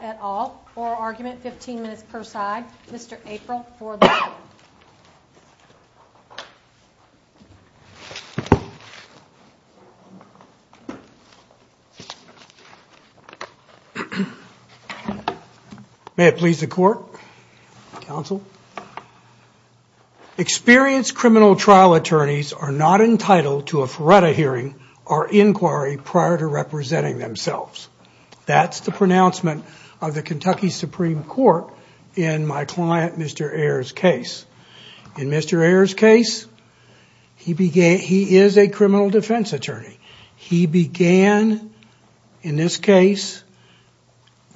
at all. Oral argument, 15 minutes per side. Mr. April for the court. May it please the court, counsel. Experienced criminal trial attorneys are not entitled to a FRERETA hearing or inquiry prior to representing themselves. That's the pronouncement of the Kentucky Supreme Court in my client, Mr. Ayers' case. In Mr. Ayers' case, he is a criminal defense attorney. He began, in this case,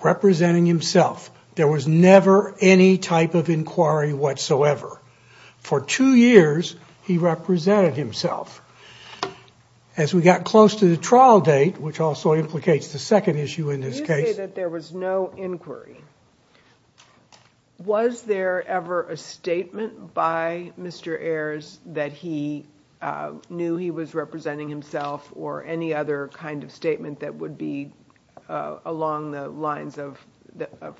representing himself. There was never any type of inquiry whatsoever. For two years, he represented himself. As we got close to the trial date, which also implicates the second issue in this case. You say that there was no inquiry. Was there ever a statement by Mr. Ayers that he knew he was representing himself or any other kind of statement that would be along the lines of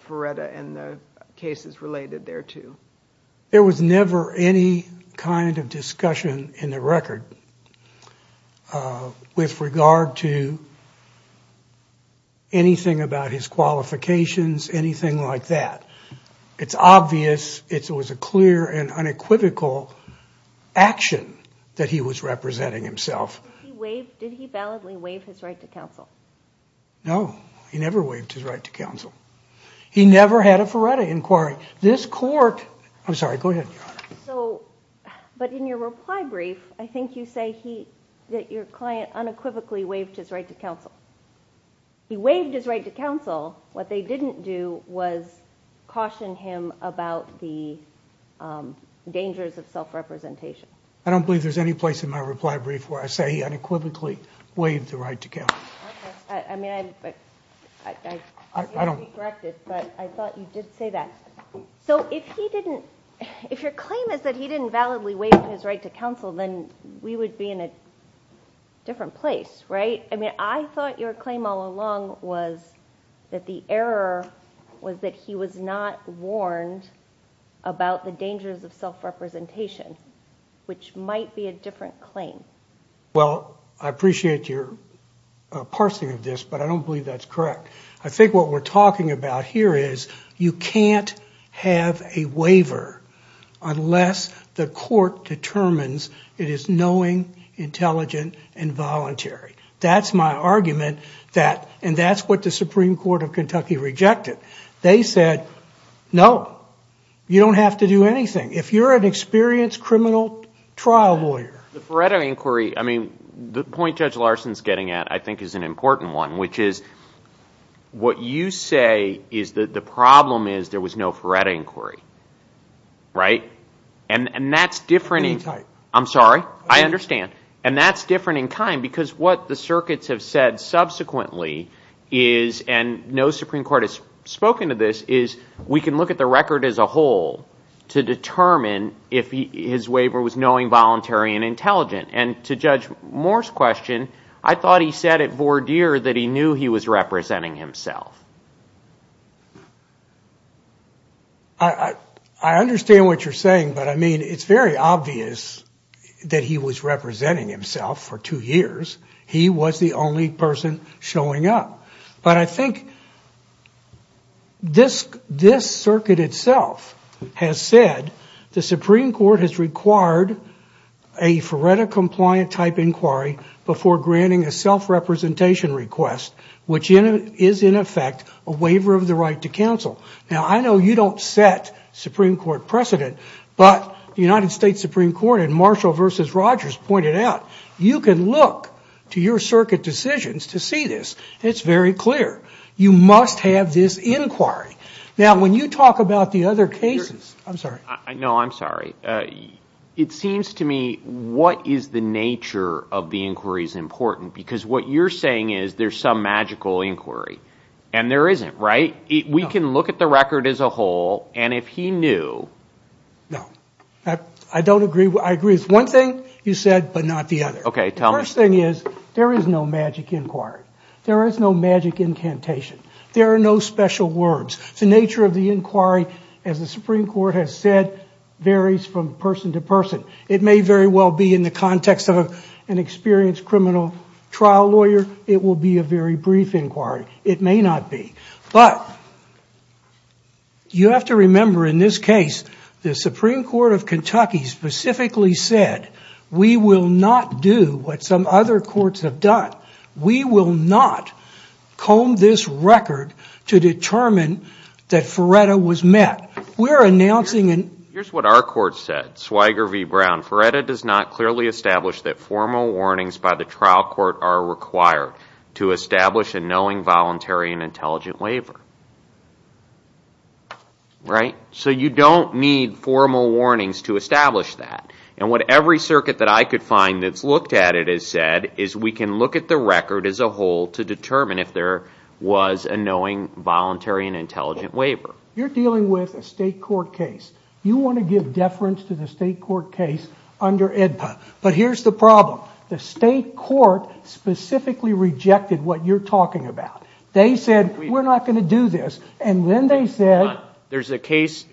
FRERETA and the cases related thereto? There was never any kind of discussion in the record with regard to anything about his qualifications, anything like that. It's obvious it was a clear and unequivocal action that he was representing himself. Did he validly waive his right to counsel? No, he never waived his right to counsel. He never had a FRERETA inquiry. This court... I'm sorry, go ahead. But in your reply brief, I think you say that your client unequivocally waived his right to counsel. He waived his right to counsel. What they didn't do was caution him about the dangers of self-representation. I don't believe there's any place in my reply brief where I say he unequivocally waived the right to counsel. I thought you did say that. So if your claim is that he didn't validly waive his right to counsel, then we would be in a different place, right? I mean, I thought your claim all along was that the error was that he was not warned about the dangers of self-representation, which might be a different claim. Well, I appreciate your parsing of this, but I don't believe that's correct. I think what we're talking about here is you can't have a waiver unless the court determines it is knowing, intelligent, and voluntary. That's my argument, and that's what the Supreme Court of Kentucky rejected. They said, no, you don't have to do anything. If you're an experienced criminal trial lawyer... The Ferretta inquiry, I mean, the point Judge Larson's getting at, I think, is an important one, which is what you say is that the problem is there was no Ferretta inquiry, right? And that's different... Any type. I'm sorry. I understand. And that's different in kind, because what the circuits have said subsequently is, and no Supreme Court has spoken to this, is we can look at the record as a whole to determine if his waiver was knowing, voluntary, and intelligent. And to Judge Moore's question, I thought he said at voir dire that he knew he was representing himself. I understand what you're saying, but I mean, it's very obvious that he was representing himself for two years. He was the only person showing up. But I think this circuit itself has said the Supreme Court has required a Ferretta-compliant type inquiry before granting a self-representation request, which is, in effect, a waiver of the right to counsel. Now, I know you don't set Supreme Court precedent, but the United States Supreme Court in Marshall v. Rogers pointed out, you can look to your circuit decisions to see this. It's very clear. You must have this inquiry. Now, when you talk about the other cases... I'm sorry. No, I'm sorry. It seems to me, what is the nature of the inquiries important? Because what you're saying is there's some magical inquiry. And there isn't, right? We can look at the record as a whole, and if he knew... No. I don't agree. I agree with one thing you said, but not the other. Okay, tell me. The first thing is, there is no magic inquiry. There is no magic incantation. There are no special words. The nature of the inquiry, as the Supreme Court has said, varies from person to person. It may very well be in the context of an experienced criminal trial lawyer. It will be a very brief inquiry. It may not be. But you have to remember, in this case, the Supreme Court of Kentucky specifically said, we will not do what some other courts have done. We will not comb this record to determine that Feretta was met. We're announcing... Here's what our court said, Swiger v. Brown. Feretta does not clearly establish that formal warnings by the trial court are required to establish a knowing, voluntary, and intelligent waiver. Right? So you don't need formal warnings to establish that. And what every circuit that I could find that's looked at it has said is, we can look at the record as a whole to determine if there was a knowing, voluntary, and intelligent waiver. You're dealing with a state court case. You want to give deference to the state court case under IDPA. But here's the problem. The state court specifically rejected what you're saying. They're not going to do this. And then they said... There's a case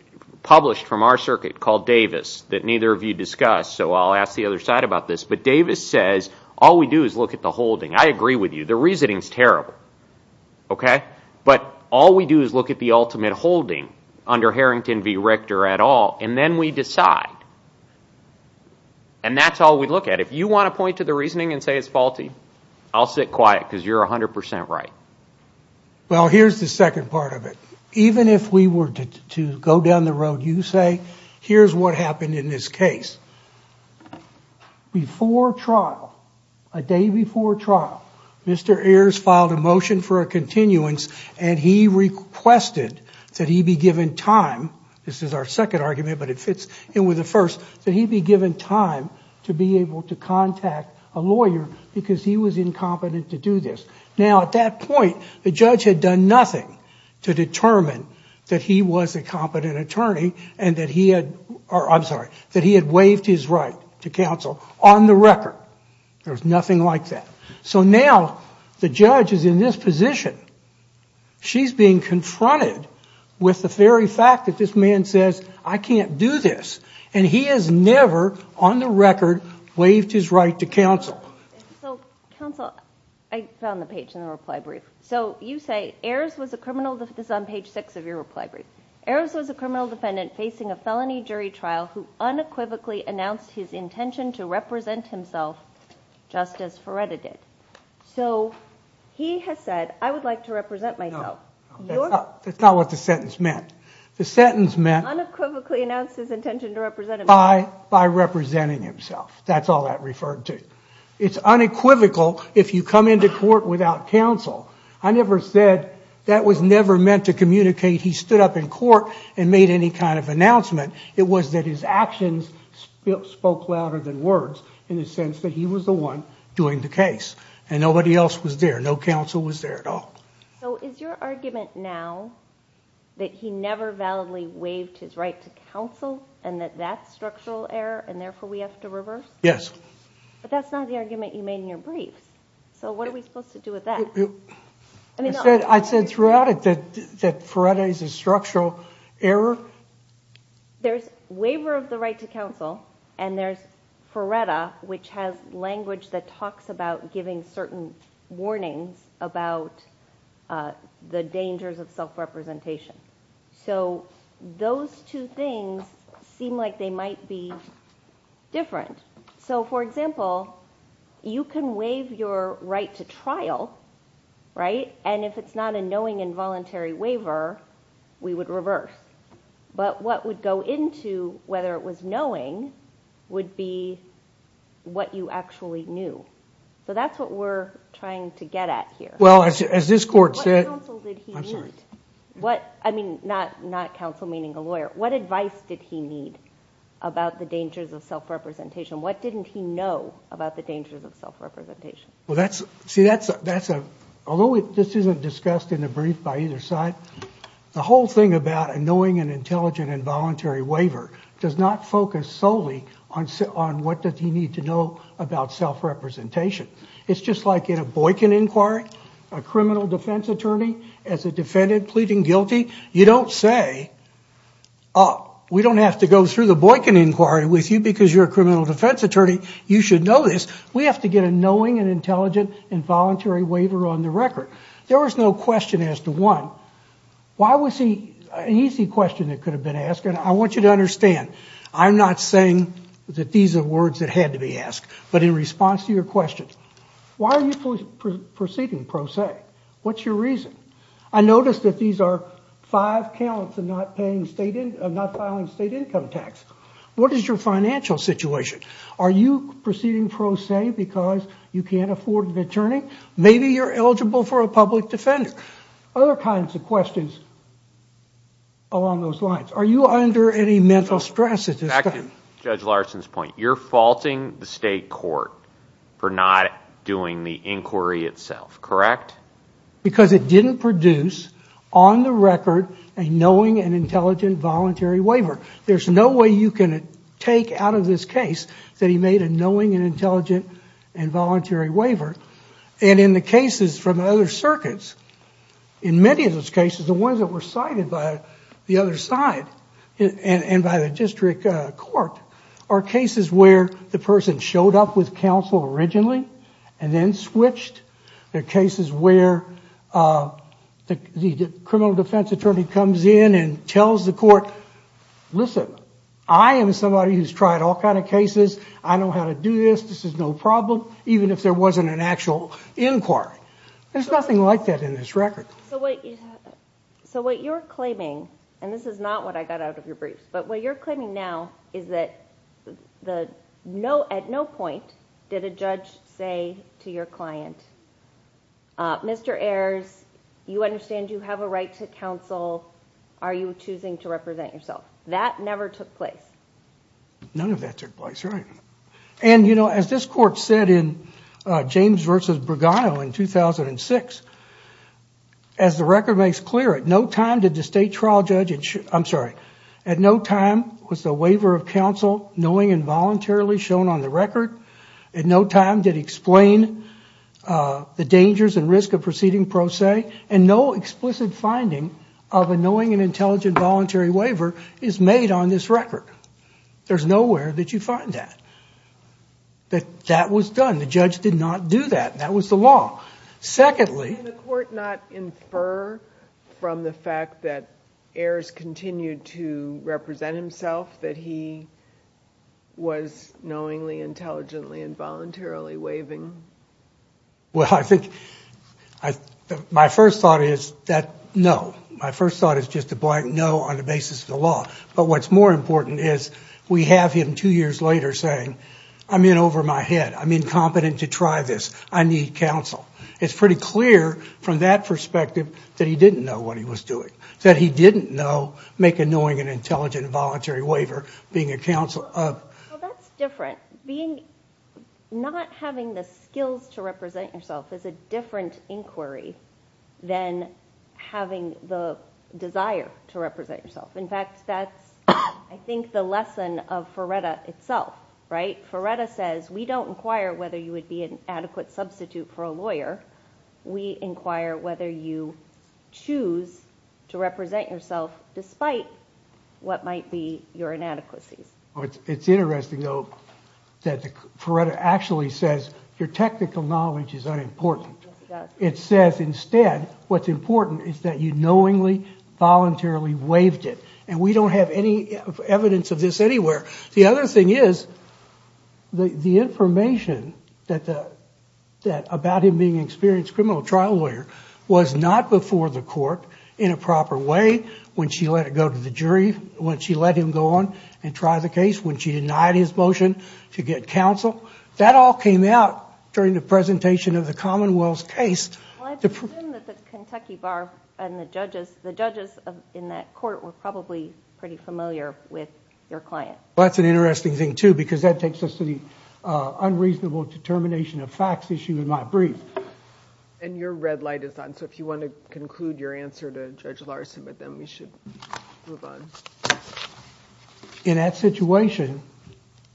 published from our circuit called Davis that neither of you discussed. So I'll ask the other side about this. But Davis says, all we do is look at the holding. I agree with you. The reasoning's terrible. Okay? But all we do is look at the ultimate holding under Harrington v. Richter et al. And then we decide. And that's all we look at. If you want to point to the reasoning and say it's faulty, I'll sit quiet because you're 100% right. Well, here's the second part of it. Even if we were to go down the road, you say, here's what happened in this case. Before trial, a day before trial, Mr. Ayers filed a motion for a continuance, and he requested that he be given time. This is our second argument, but it fits in with the first. That he be given time to be able to contact a lawyer because he was incompetent to do this. Now, at that point, the judge had done nothing to determine that he was a competent attorney and that he had... I'm sorry, that he had waived his right to counsel on the record. There's nothing like that. So now, the judge is in this position. She's being confronted with the very fact that this man says, I can't do this. And he has never, on the record, waived his right to counsel. So, counsel, I found the page in the reply brief. So, you say, Ayers was a criminal... This is on page six of your reply brief. Ayers was a criminal defendant facing a felony jury trial who unequivocally announced his intention to represent himself just as Feretta did. So, he has said, I would like to represent myself. No, that's not what the sentence meant. The sentence meant... Unequivocally announced his intention to represent himself. By representing himself. That's all that referred to. It's unequivocal if you come into court without counsel. I never said that was never meant to communicate he stood up in court and made any kind of announcement. It was that his actions spoke louder than words in the sense that he was the one doing the case. And nobody else was there. No counsel was there at all. So, is your argument now that he never validly waived his right to counsel and that that's structural error and therefore we have to reverse? Yes. But that's not the argument you made in your briefs. So, what are we supposed to do with that? I said throughout it that Feretta is a structural error. There's waiver of the right to counsel and there's language that talks about giving certain warnings about the dangers of self representation. So, those two things seem like they might be different. So, for example, you can waive your right to trial, right? And if it's not a knowing involuntary waiver, we would reverse. But what would go into whether it was knowing would be what you actually knew. So, that's what we're trying to get at here. Well, as this court said... What counsel did he need? I mean, not counsel meaning a lawyer. What advice did he need about the dangers of self representation? What didn't he know about the dangers of self representation? See, although this isn't discussed in the brief by either side, the whole thing about a knowing and intelligent involuntary waiver does not focus solely on what does he need to know about self representation. It's just like in a Boykin inquiry, a criminal defense attorney as a defendant pleading guilty, you don't say, we don't have to go through the Boykin inquiry with you because you're a criminal defense attorney. You should know this. We have to get a knowing and intelligent involuntary waiver on the record. There was no question as to why. Why was he... An easy question that could have been asked, and I want you to understand, I'm not saying that these are words that had to be asked, but in response to your question, why are you proceeding pro se? What's your reason? I noticed that these are five counts of not filing state income tax. What is your financial situation? Are you proceeding pro se because you can't afford an attorney? Maybe you're eligible for a public defender. Other kinds of questions along those lines. Are you under any mental stress at this time? Back to Judge Larson's point, you're faulting the state court for not doing the inquiry itself, correct? Because it didn't produce on the record a knowing and intelligent voluntary waiver. There's no way you can take out of this case that he made a knowing and intelligent involuntary waiver. And in the cases from other circuits, in many of those cases, the ones that were cited by the other side and by the district court, are cases where the person showed up with counsel originally and then switched. There are cases where the criminal defense attorney comes in and tells the court, listen, I am somebody who's tried all kinds of cases. I know how to do this. This is no problem, even if there wasn't an actual inquiry. There's nothing like that in this record. So what you're claiming, and this is not what I got out of your briefs, but what you're claiming now is that at no point did a judge say to your client, Mr. Ayers, you understand you have a right to counsel. Are you choosing to represent yourself? That never took place. None of that took place, right. And you know, as this court said in James versus Bergano in 2006, as the record makes clear, at no time did the state trial judge, I'm sorry, at no time was the waiver of counsel knowing involuntarily shown on the record. At no time did he explain the dangers and risk of proceeding pro se, and no explicit finding of a knowing and intelligent voluntary waiver is made on this record. There's nowhere that you find that. That was done. The judge did not do that. That was the law. Secondly, Can the court not infer from the fact that Ayers continued to represent himself that he was knowingly, intelligently, involuntarily waiving? Well I think, my first thought is that no. My first thought is just a blank no on the basis of the law. But what's more important is we have him two years later saying, I'm in over my head. I'm incompetent to try this. I need counsel. It's pretty clear from that perspective that he didn't know what he was doing. That he didn't know make a knowing and intelligent voluntary waiver, being a counsel of... Well that's different. Not having the skills to represent yourself is a different inquiry than having the desire to represent yourself. In fact, that's I think the lesson of Ferretta itself, right? Ferretta says, we don't inquire whether you would be an adequate substitute for a lawyer. We inquire whether you choose to represent yourself despite what might be your inadequacies. It's interesting though that Ferretta actually says, your technical knowledge is unimportant. It says instead, what's important is that you knowingly, voluntarily waived it. And we don't have any evidence of this anywhere. The other thing is, the information that Ayers had about him being an experienced criminal trial lawyer was not before the court in a proper way when she let it go to the jury, when she let him go on and try the case, when she denied his motion to get counsel. That all came out during the presentation of the Commonwealth's case. Well, I'd assume that the Kentucky Bar and the judges, the judges in that court were probably pretty familiar with your client. Well, that's an interesting thing too because that takes us to the unreasonable determination of facts issue in my brief. And your red light is on, so if you want to conclude your answer to Judge Larson with them, we should move on. In that situation,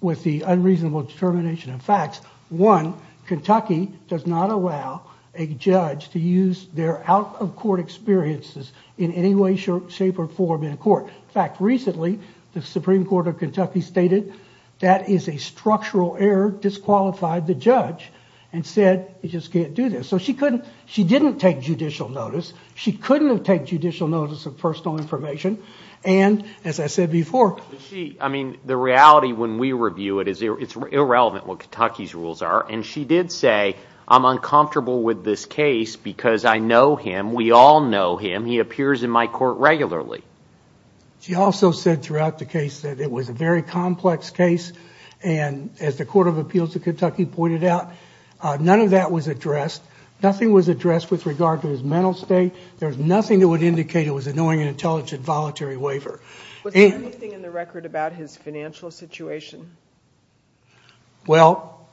with the unreasonable determination of facts, one, Kentucky does not allow a judge to use their out-of-court experiences in any way, shape, or form in court. In fact, recently, the Supreme Court of Kentucky stated, that is a structural error, disqualified the judge, and said, you just can't do this. So she couldn't, she didn't take judicial notice, she couldn't have taken judicial notice of personal information, and as I said before. I mean, the reality when we review it, it's irrelevant what Kentucky's rules are, and she did say, I'm uncomfortable with this case because I know him, we all know him, he appears in my court regularly. She also said throughout the case that it was a very complex case, and as the Court of Appeals of Kentucky pointed out, none of that was addressed, nothing was addressed with regard to his mental state, there's nothing that would indicate it was a knowing and intelligent voluntary waiver. Was there anything in the record about his financial situation? Well,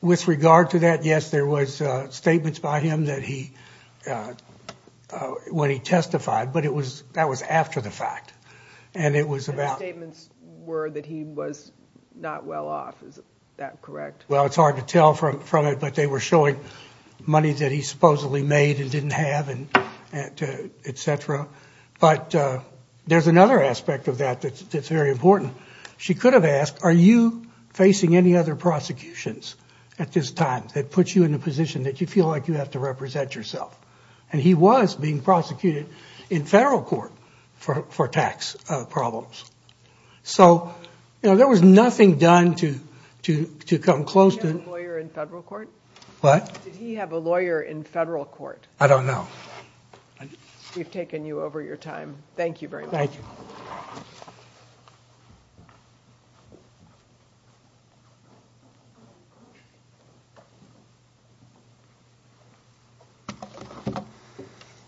with regard to that, yes, there was statements by him that he, when he testified, but it was, that was after the fact. And it was about... The statements were that he was not well off, is that correct? Well, it's hard to tell from it, but they were showing money that he supposedly made and didn't have and et cetera. But there's another aspect of that that's very important. She could have asked, are you facing any other prosecutions at this time that puts you in a position that you feel like you have to represent yourself? And he was being prosecuted in federal court for tax problems. So, you know, there was nothing done to come close to... Did he have a lawyer in federal court? What? Did he have a lawyer in federal court? I don't know. We've taken you over your time. Thank you very much. Thank you.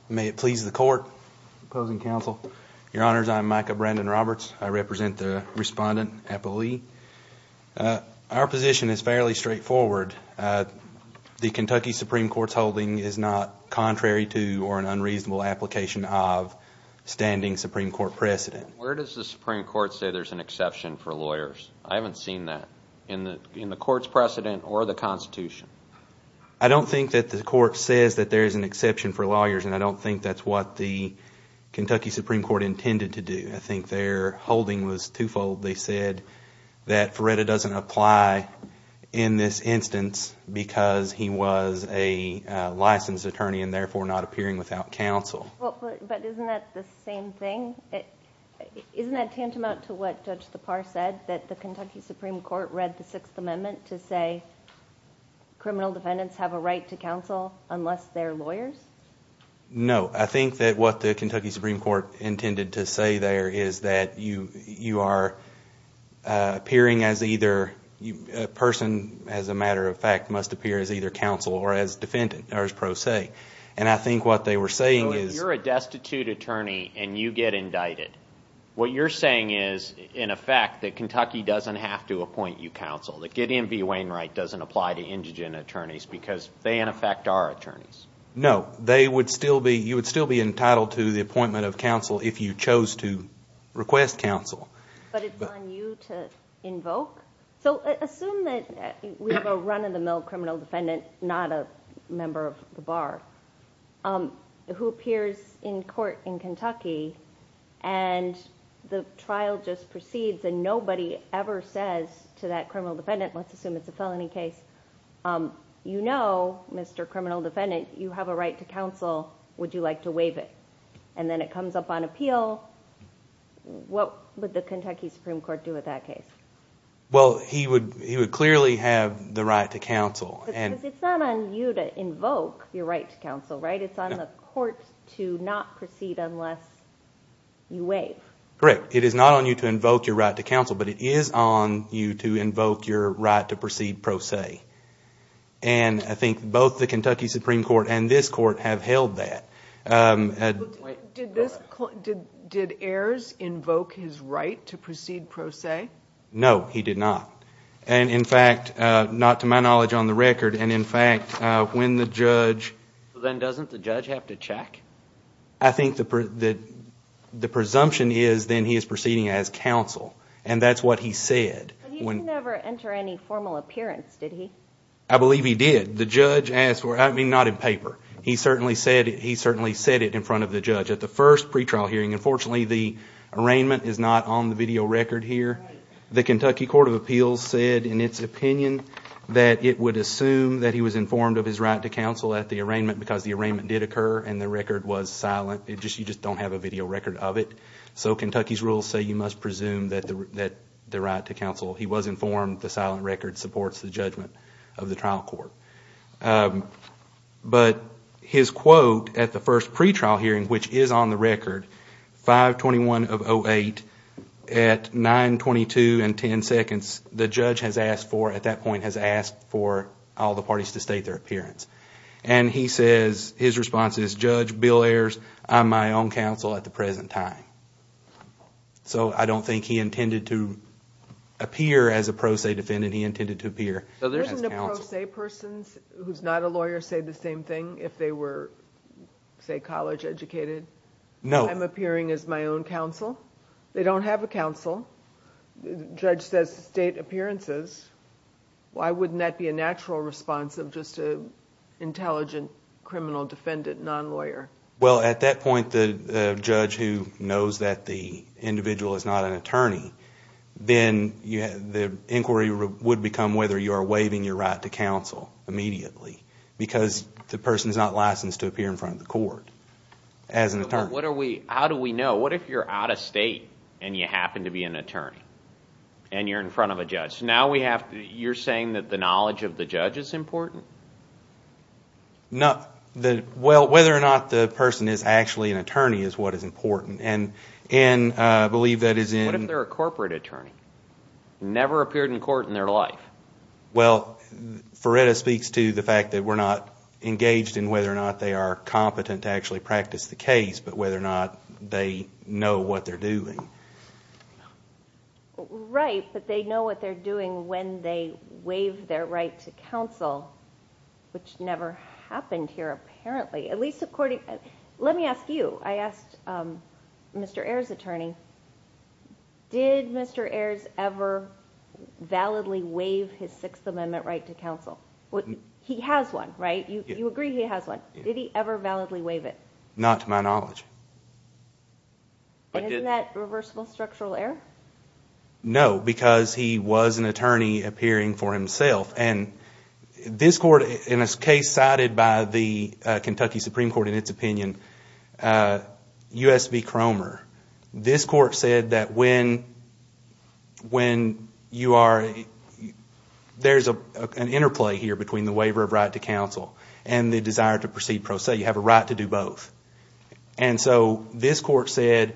May it please the court, opposing counsel, your honors, I'm Micah Brandon-Roberts. I represent the respondent, Apple Lee. Our position is fairly straightforward. The Kentucky Supreme Court's holding is not contrary to or an unreasonable application of standing Supreme Court precedent. Where does the Supreme Court say there's an exception for lawyers? I haven't seen that in the court's precedent or the Constitution. I don't think that the court says that there is an exception for lawyers, and I don't think that's what the Kentucky Supreme Court intended to do. I think their holding was twofold. They said that Feretta doesn't apply in this instance because he was a licensed attorney and therefore not appearing without counsel. But isn't that the same thing? Isn't that tantamount to what Judge Tappar said, that the Kentucky Supreme Court read the Sixth Amendment to say criminal defendants have a right to counsel unless they're lawyers? No, I think that what the Kentucky Supreme Court intended to say there is that you are appearing as either, a person, as a matter of fact, must appear as either counsel or as defendant, or as pro se. And I think what they were saying is- So if you're a destitute attorney and you get indicted, what you're saying is, in effect, that Kentucky doesn't have to appoint you counsel. That Gideon V. Wainwright doesn't apply to indigent attorneys because they, in effect, are attorneys. No, you would still be entitled to the appointment of counsel if you chose to request counsel. But it's on you to invoke? So assume that we have a run-of-the-mill criminal defendant, not a member of the bar, who appears in court in Kentucky and the trial just proceeds and nobody ever says to that criminal defendant, let's assume it's a felony case, you know, Mr. Criminal Defendant, you have a right to counsel. Would you like to waive it? And then it comes up on appeal. What would the Kentucky Supreme Court do with that case? Well, he would clearly have the right to counsel. Because it's not on you to invoke your right to counsel, right? It's on the court to not proceed unless you waive. Correct. It is not on you to invoke your right to counsel, but it is on you to invoke your right to proceed pro se. And I think both the Kentucky Supreme Court and this court have held that. Did Ayers invoke his right to proceed pro se? No, he did not. And in fact, not to my knowledge on the record, and in fact, when the judge... Then doesn't the judge have to check? I think the presumption is then he is proceeding as counsel. And that's what he said. But he didn't ever enter any formal appearance, did he? I believe he did. The judge asked for... I mean, not in paper. He certainly said it in front of the judge. At the first pretrial hearing, unfortunately, the arraignment is not on the video record here. The Kentucky Court of Appeals said in its opinion that it would assume that he was informed of his right to counsel at the arraignment because the arraignment did occur and the record was silent. You just don't have a video record of it. So Kentucky's rules say you must presume the right to counsel. He was informed. The silent record supports the judgment of the trial court. But his quote at the first pretrial hearing, which is on the record, 5-21-08, at 9.22 and 10 seconds, the judge has asked for, at that point, has asked for all the parties to state their appearance. And he says, his response is, Judge, Bill Ayers, I'm my own counsel at the present time. So I don't think he intended to appear as a pro se defendant. He intended to appear as counsel. Isn't a pro se person who's not a lawyer say the same thing if they were, say, college educated? No. I'm appearing as my own counsel? They don't have a counsel. The judge says state appearances. Why wouldn't that be a natural response of just an intelligent criminal defendant, non-lawyer? Well, at that point, the judge who knows that the individual is not an attorney, then the inquiry would become whether you are waiving your right to counsel immediately because the person is not licensed to appear in front of the court as an attorney. How do we know? What if you're out of state and you happen to be an attorney and you're in front of a judge? So now you're saying that the knowledge of the judge is important? No. Well, whether or not the person is actually an attorney is what is important, and I believe that is in... What if they're a corporate attorney, never appeared in court in their life? Well, Ferreira speaks to the fact that we're not engaged in whether or not they are competent to actually practice the case, but whether or not they know what they're doing. Right, but they know what they're doing when they waive their right to counsel, which never happened here apparently, at least according... Let me ask you. I asked Mr. Ayers' attorney, did Mr. Ayers ever validly waive his Sixth Amendment right to counsel? He has one, right? You agree he has one. Did he ever validly waive it? Not to my knowledge. Isn't that reversible structural error? No, because he was an attorney appearing for himself, and this court, in a case cited by the Kentucky Supreme Court in its opinion, U.S. v. Cromer, this court said that when you are... There's an interplay here between the waiver of right to counsel and the desire to proceed pro se. You have a right to do both. And so this court said,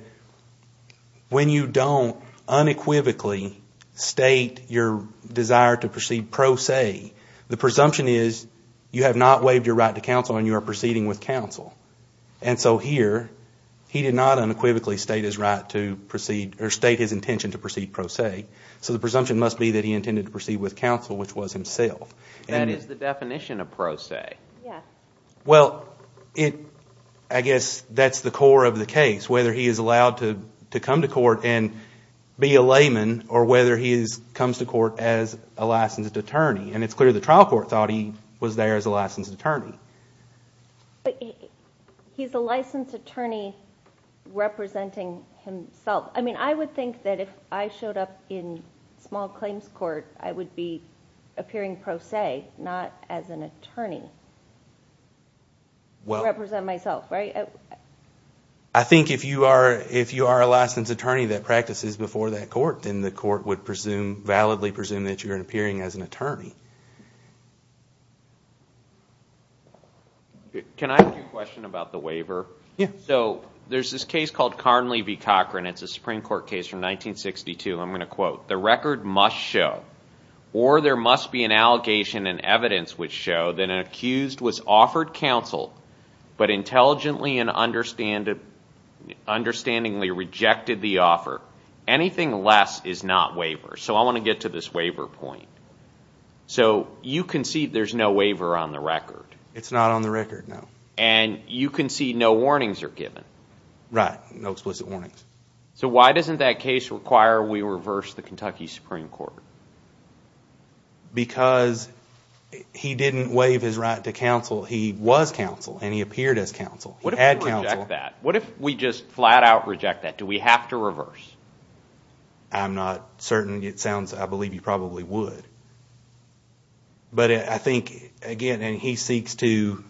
when you don't unequivocally state your desire to proceed pro se, the presumption is you have not waived your right to counsel and you are proceeding with counsel. And so here, he did not unequivocally state his right to proceed or state his intention to proceed pro se. So the presumption must be that he intended to proceed with counsel, which was himself. That is the definition of pro se. Yes. Well, I guess that's the core of the case, whether he is allowed to come to court and be a layman or whether he comes to court as a licensed attorney. And it's clear the trial court thought he was there as a licensed attorney. But he's a licensed attorney representing himself. I mean, I would think that if I showed up in small claims court, I would be appearing pro se, not as an attorney, to represent myself, right? I think if you are a licensed attorney that practices before that court, then the court would validly presume that you are appearing as an attorney. Can I ask you a question about the waiver? Yes. So there's this case called Carnley v. Cochran. It's a Supreme Court case from 1962. I'm going to quote, The record must show or there must be an allegation and evidence which show that an accused was offered counsel but intelligently and understandably rejected the offer. Anything less is not waiver. So I want to get to this waiver point. So you concede there's no waiver on the record. It's not on the record, no. And you concede no warnings are given. Right, no explicit warnings. So why doesn't that case require we reverse the Kentucky Supreme Court? Because he didn't waive his right to counsel. He was counsel and he appeared as counsel. What if we reject that? What if we just flat out reject that? Do we have to reverse? I'm not certain. It sounds I believe you probably would. But I think, again, and he seeks to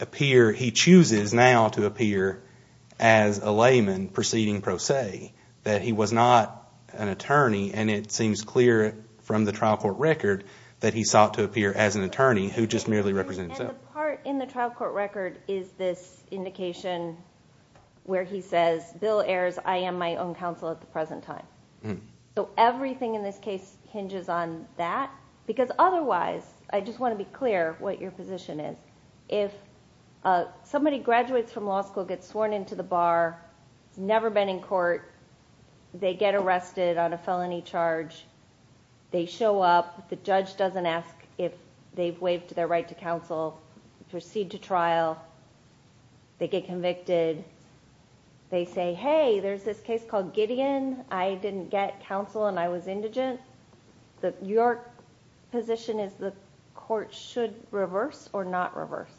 appear, he chooses now to appear as a layman proceeding pro se, that he was not an attorney. And it seems clear from the trial court record that he sought to appear as an attorney who just merely represents himself. And the part in the trial court record is this indication where he says, Bill Ayers, I am my own counsel at the present time. So everything in this case hinges on that. Because otherwise, I just want to be clear what your position is. If somebody graduates from law school, gets sworn into the bar, has never been in court, they get arrested on a felony charge, they show up, the judge doesn't ask if they've waived their right to counsel, proceed to trial, they get convicted, they say, hey, there's this case called Gideon. I didn't get counsel and I was indigent. Your position is the court should reverse or not reverse?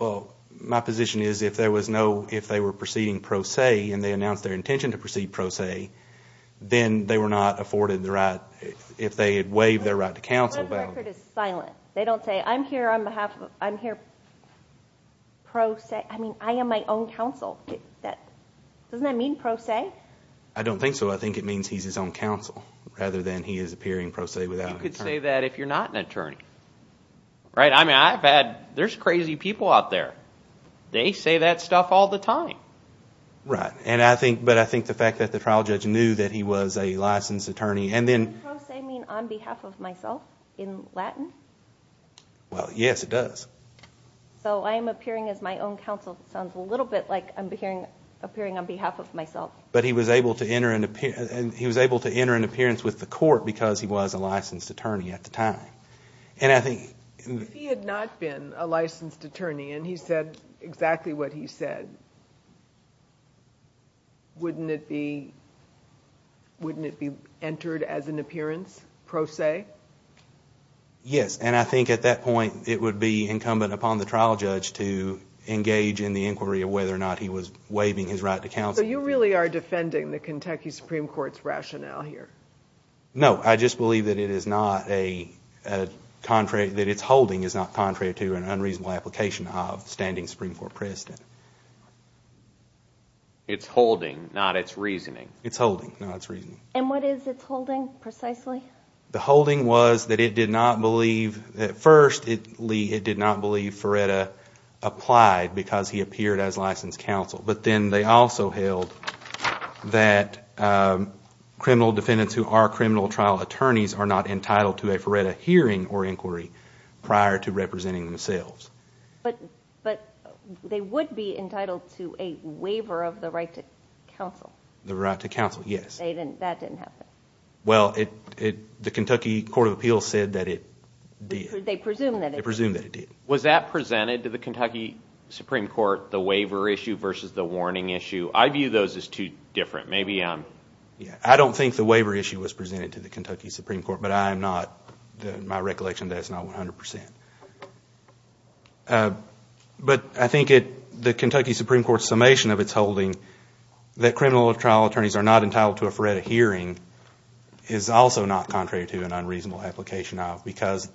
Well, my position is if there was no, if they were proceeding pro se and they announced their intention to proceed pro se, then they were not afforded the right, if they had waived their right to counsel. But the record is silent. They don't say, I'm here on behalf of, I'm here pro se. I mean, I am my own counsel. Doesn't that mean pro se? I don't think so. I think it means he's his own counsel rather than he is appearing pro se without an attorney. You could say that if you're not an attorney. Right? I mean, I've had, there's crazy people out there. They say that stuff all the time. Right. But I think the fact that the trial judge knew that he was a licensed attorney and then Does pro se mean on behalf of myself in Latin? Well, yes, it does. So I am appearing as my own counsel. Sounds a little bit like I'm appearing on behalf of myself. But he was able to enter an, he was able to enter an appearance with the court because he was a licensed attorney at the time. And I think If he had not been a licensed attorney and he said exactly what he said, wouldn't it be, wouldn't it be entered as an appearance pro se? Yes. And I think at that point it would be incumbent upon the trial judge to engage in the inquiry of whether or not he was waiving his right to counsel. So you really are defending the Kentucky Supreme Court's rationale here? No. I just believe that it is not a contrary, that it's holding is not contrary to an unreasonable application of standing Supreme Court precedent. It's holding, not it's reasoning. It's holding, not it's reasoning. And what is it's holding precisely? The holding was that it did not believe, at first it did not believe Feretta applied because he appeared as licensed counsel. But then they also held that criminal defendants who are criminal trial attorneys are not entitled to a Feretta hearing or inquiry prior to representing themselves. But they would be entitled to a waiver of the right to counsel. The right to counsel, yes. That didn't happen. Well, the Kentucky Court of Appeals said that it did. They presumed that it did. They presumed that it did. Was that presented to the Kentucky Supreme Court, the waiver issue versus the warning issue? I view those as two different. I don't think the waiver issue was presented to the Kentucky Supreme Court, but I am not, in my recollection, that's not 100%. But I think the Kentucky Supreme Court's summation of its holding that criminal trial attorneys are not entitled to a Feretta hearing is also not contrary to an unreasonable application of because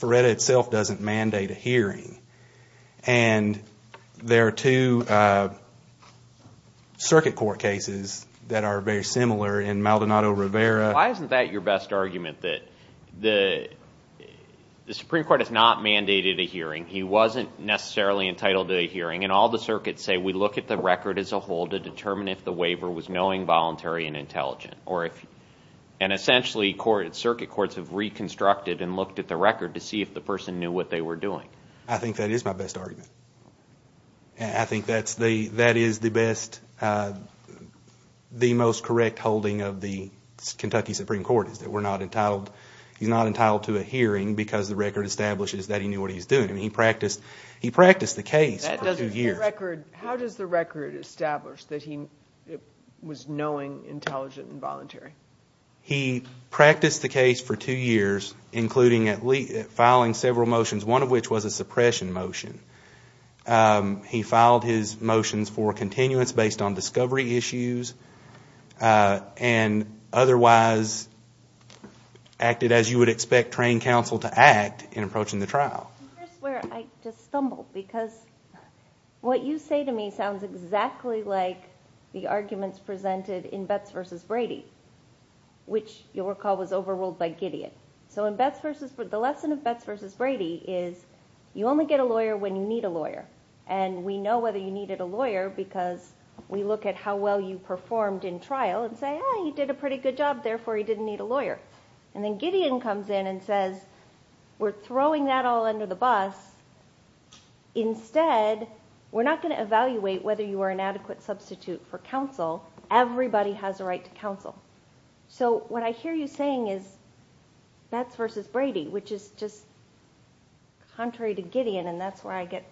Feretta itself doesn't mandate a hearing. And there are two circuit court cases that are very similar in Maldonado Rivera. Why isn't that your best argument, that the Supreme Court has not mandated a hearing? He wasn't necessarily entitled to a hearing. And all the circuits say we look at the record as a whole to determine if the waiver was knowing, voluntary, and intelligent. And essentially circuit courts have reconstructed and looked at the record to see if the person knew what they were doing. I think that is my best argument. I think that is the most correct holding of the Kentucky Supreme Court, is that he's not entitled to a hearing because the record establishes that he knew what he was doing. He practiced the case for two years. How does the record establish that he was knowing, intelligent, and voluntary? He practiced the case for two years, including filing several motions, one of which was a suppression motion. He filed his motions for continuance based on discovery issues and otherwise acted as you would expect trained counsel to act in approaching the trial. Here's where I just stumbled because what you say to me sounds exactly like the arguments presented in Betts v. Brady, which you'll recall was overruled by Gideon. So in Betts v. Brady, the lesson of Betts v. Brady is you only get a lawyer when you need a lawyer. And we know whether you needed a lawyer because we look at how well you performed in trial and say, ah, he did a pretty good job, therefore he didn't need a lawyer. And then Gideon comes in and says, we're throwing that all under the bus. Instead, we're not going to evaluate whether you are an adequate substitute for counsel. Everybody has a right to counsel. So what I hear you saying is Betts v. Brady, which is just contrary to Gideon, and that's where I get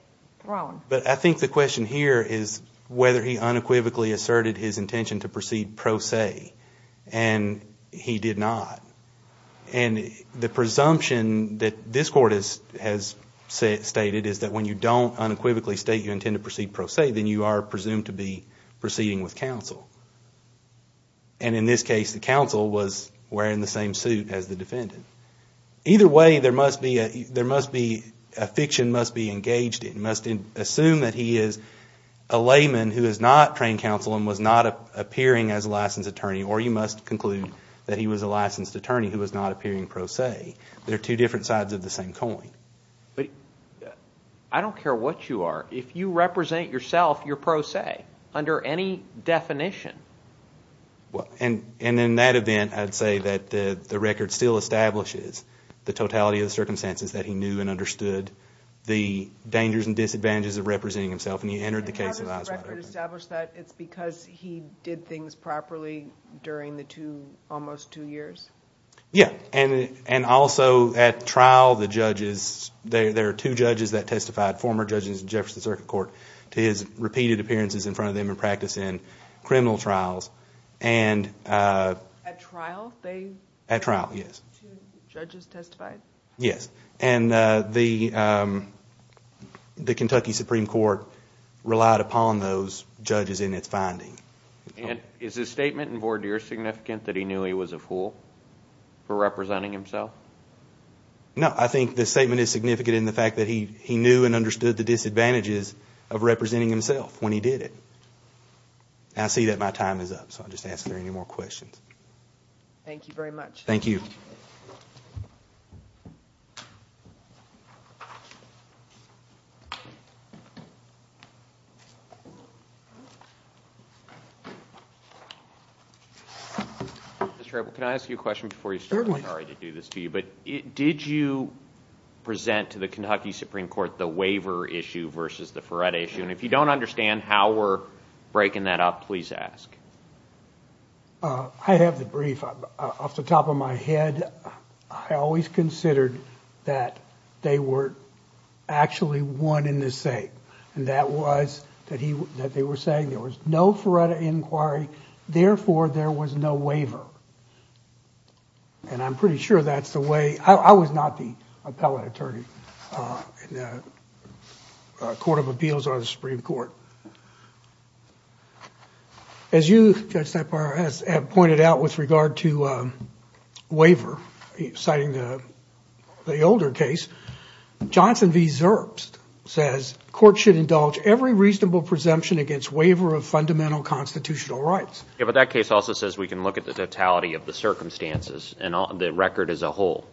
thrown. But I think the question here is whether he unequivocally asserted his intention to proceed pro se. And he did not. And the presumption that this court has stated is that when you don't unequivocally state you intend to proceed pro se, then you are presumed to be proceeding with counsel. And in this case, the counsel was wearing the same suit as the defendant. Either way, there must be a fiction must be engaged in. You must assume that he is a layman who is not trained counsel and was not appearing as a licensed attorney. Or you must conclude that he was a licensed attorney who was not appearing pro se. They are two different sides of the same coin. But I don't care what you are. If you represent yourself, you're pro se under any definition. And in that event, I'd say that the record still establishes the totality of the circumstances that he knew and understood the dangers and disadvantages of representing himself. And he entered the case of eyes wide open. And how does the record establish that? It's because he did things properly during the two, almost two years? Yeah, and also at trial, the judges, there are two judges that testified, to his repeated appearances in front of them in practice in criminal trials. At trial? At trial, yes. Two judges testified? Yes, and the Kentucky Supreme Court relied upon those judges in its finding. And is his statement in voir dire significant that he knew he was a fool for representing himself? No, I think the statement is significant in the fact that he knew and understood the disadvantages of representing himself when he did it. And I see that my time is up, so I'll just ask if there are any more questions. Thank you very much. Thank you. Mr. Apple, can I ask you a question before you start? Certainly. I'm sorry to do this to you, but did you present to the Kentucky Supreme Court the waiver issue versus the Feretta issue? And if you don't understand how we're breaking that up, please ask. I have the brief off the top of my head. I always considered that they were actually one in the same, and that was that they were saying there was no Feretta inquiry, therefore, there was no waiver. And I'm pretty sure that's the way. I was not the appellate attorney in the Court of Appeals or the Supreme Court. As you, Judge Tapper, have pointed out with regard to waiver, citing the older case, Johnson v. Zerbst says, courts should indulge every reasonable presumption against waiver of fundamental constitutional rights. Yeah, but that case also says we can look at the totality of the circumstances and the record as a whole.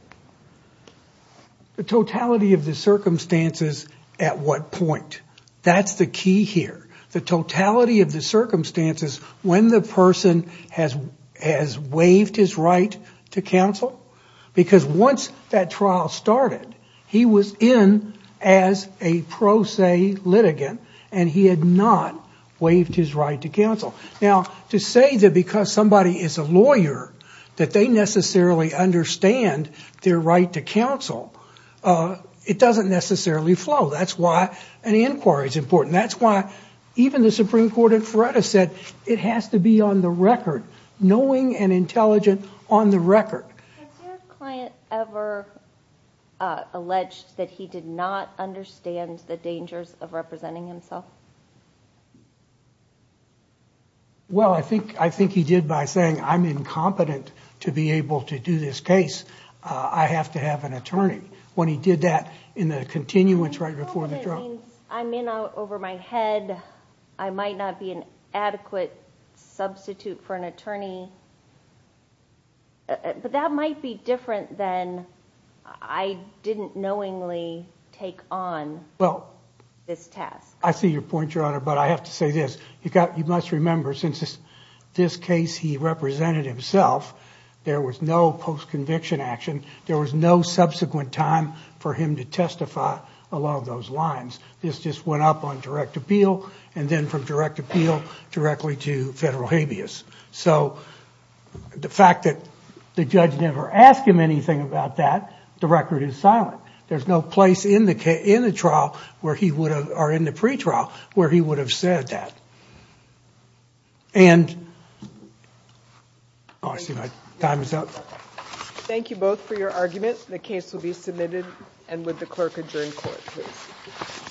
The totality of the circumstances at what point, that's the key here. The totality of the circumstances when the person has waived his right to counsel, because once that trial started, he was in as a pro se litigant, and he had not waived his right to counsel. Now, to say that because somebody is a lawyer, that they necessarily understand their right to counsel, it doesn't necessarily flow. That's why an inquiry is important. That's why even the Supreme Court at Feretta said it has to be on the record, knowing and intelligent on the record. Has your client ever alleged that he did not understand the dangers of representing himself? Well, I think he did by saying, I'm incompetent to be able to do this case. I have to have an attorney. When he did that in the continuance right before the trial. That means I'm in over my head. I might not be an adequate substitute for an attorney. But that might be different than I didn't knowingly take on this task. I see your point, Your Honor, but I have to say this. You must remember since this case he represented himself, there was no post-conviction action. There was no subsequent time for him to testify along those lines. This just went up on direct appeal and then from direct appeal directly to federal habeas. So the fact that the judge never asked him anything about that, the record is silent. There's no place in the trial or in the pretrial where he would have said that. And I see my time is up. Thank you both for your arguments. The case will be submitted and would the clerk adjourn court, please.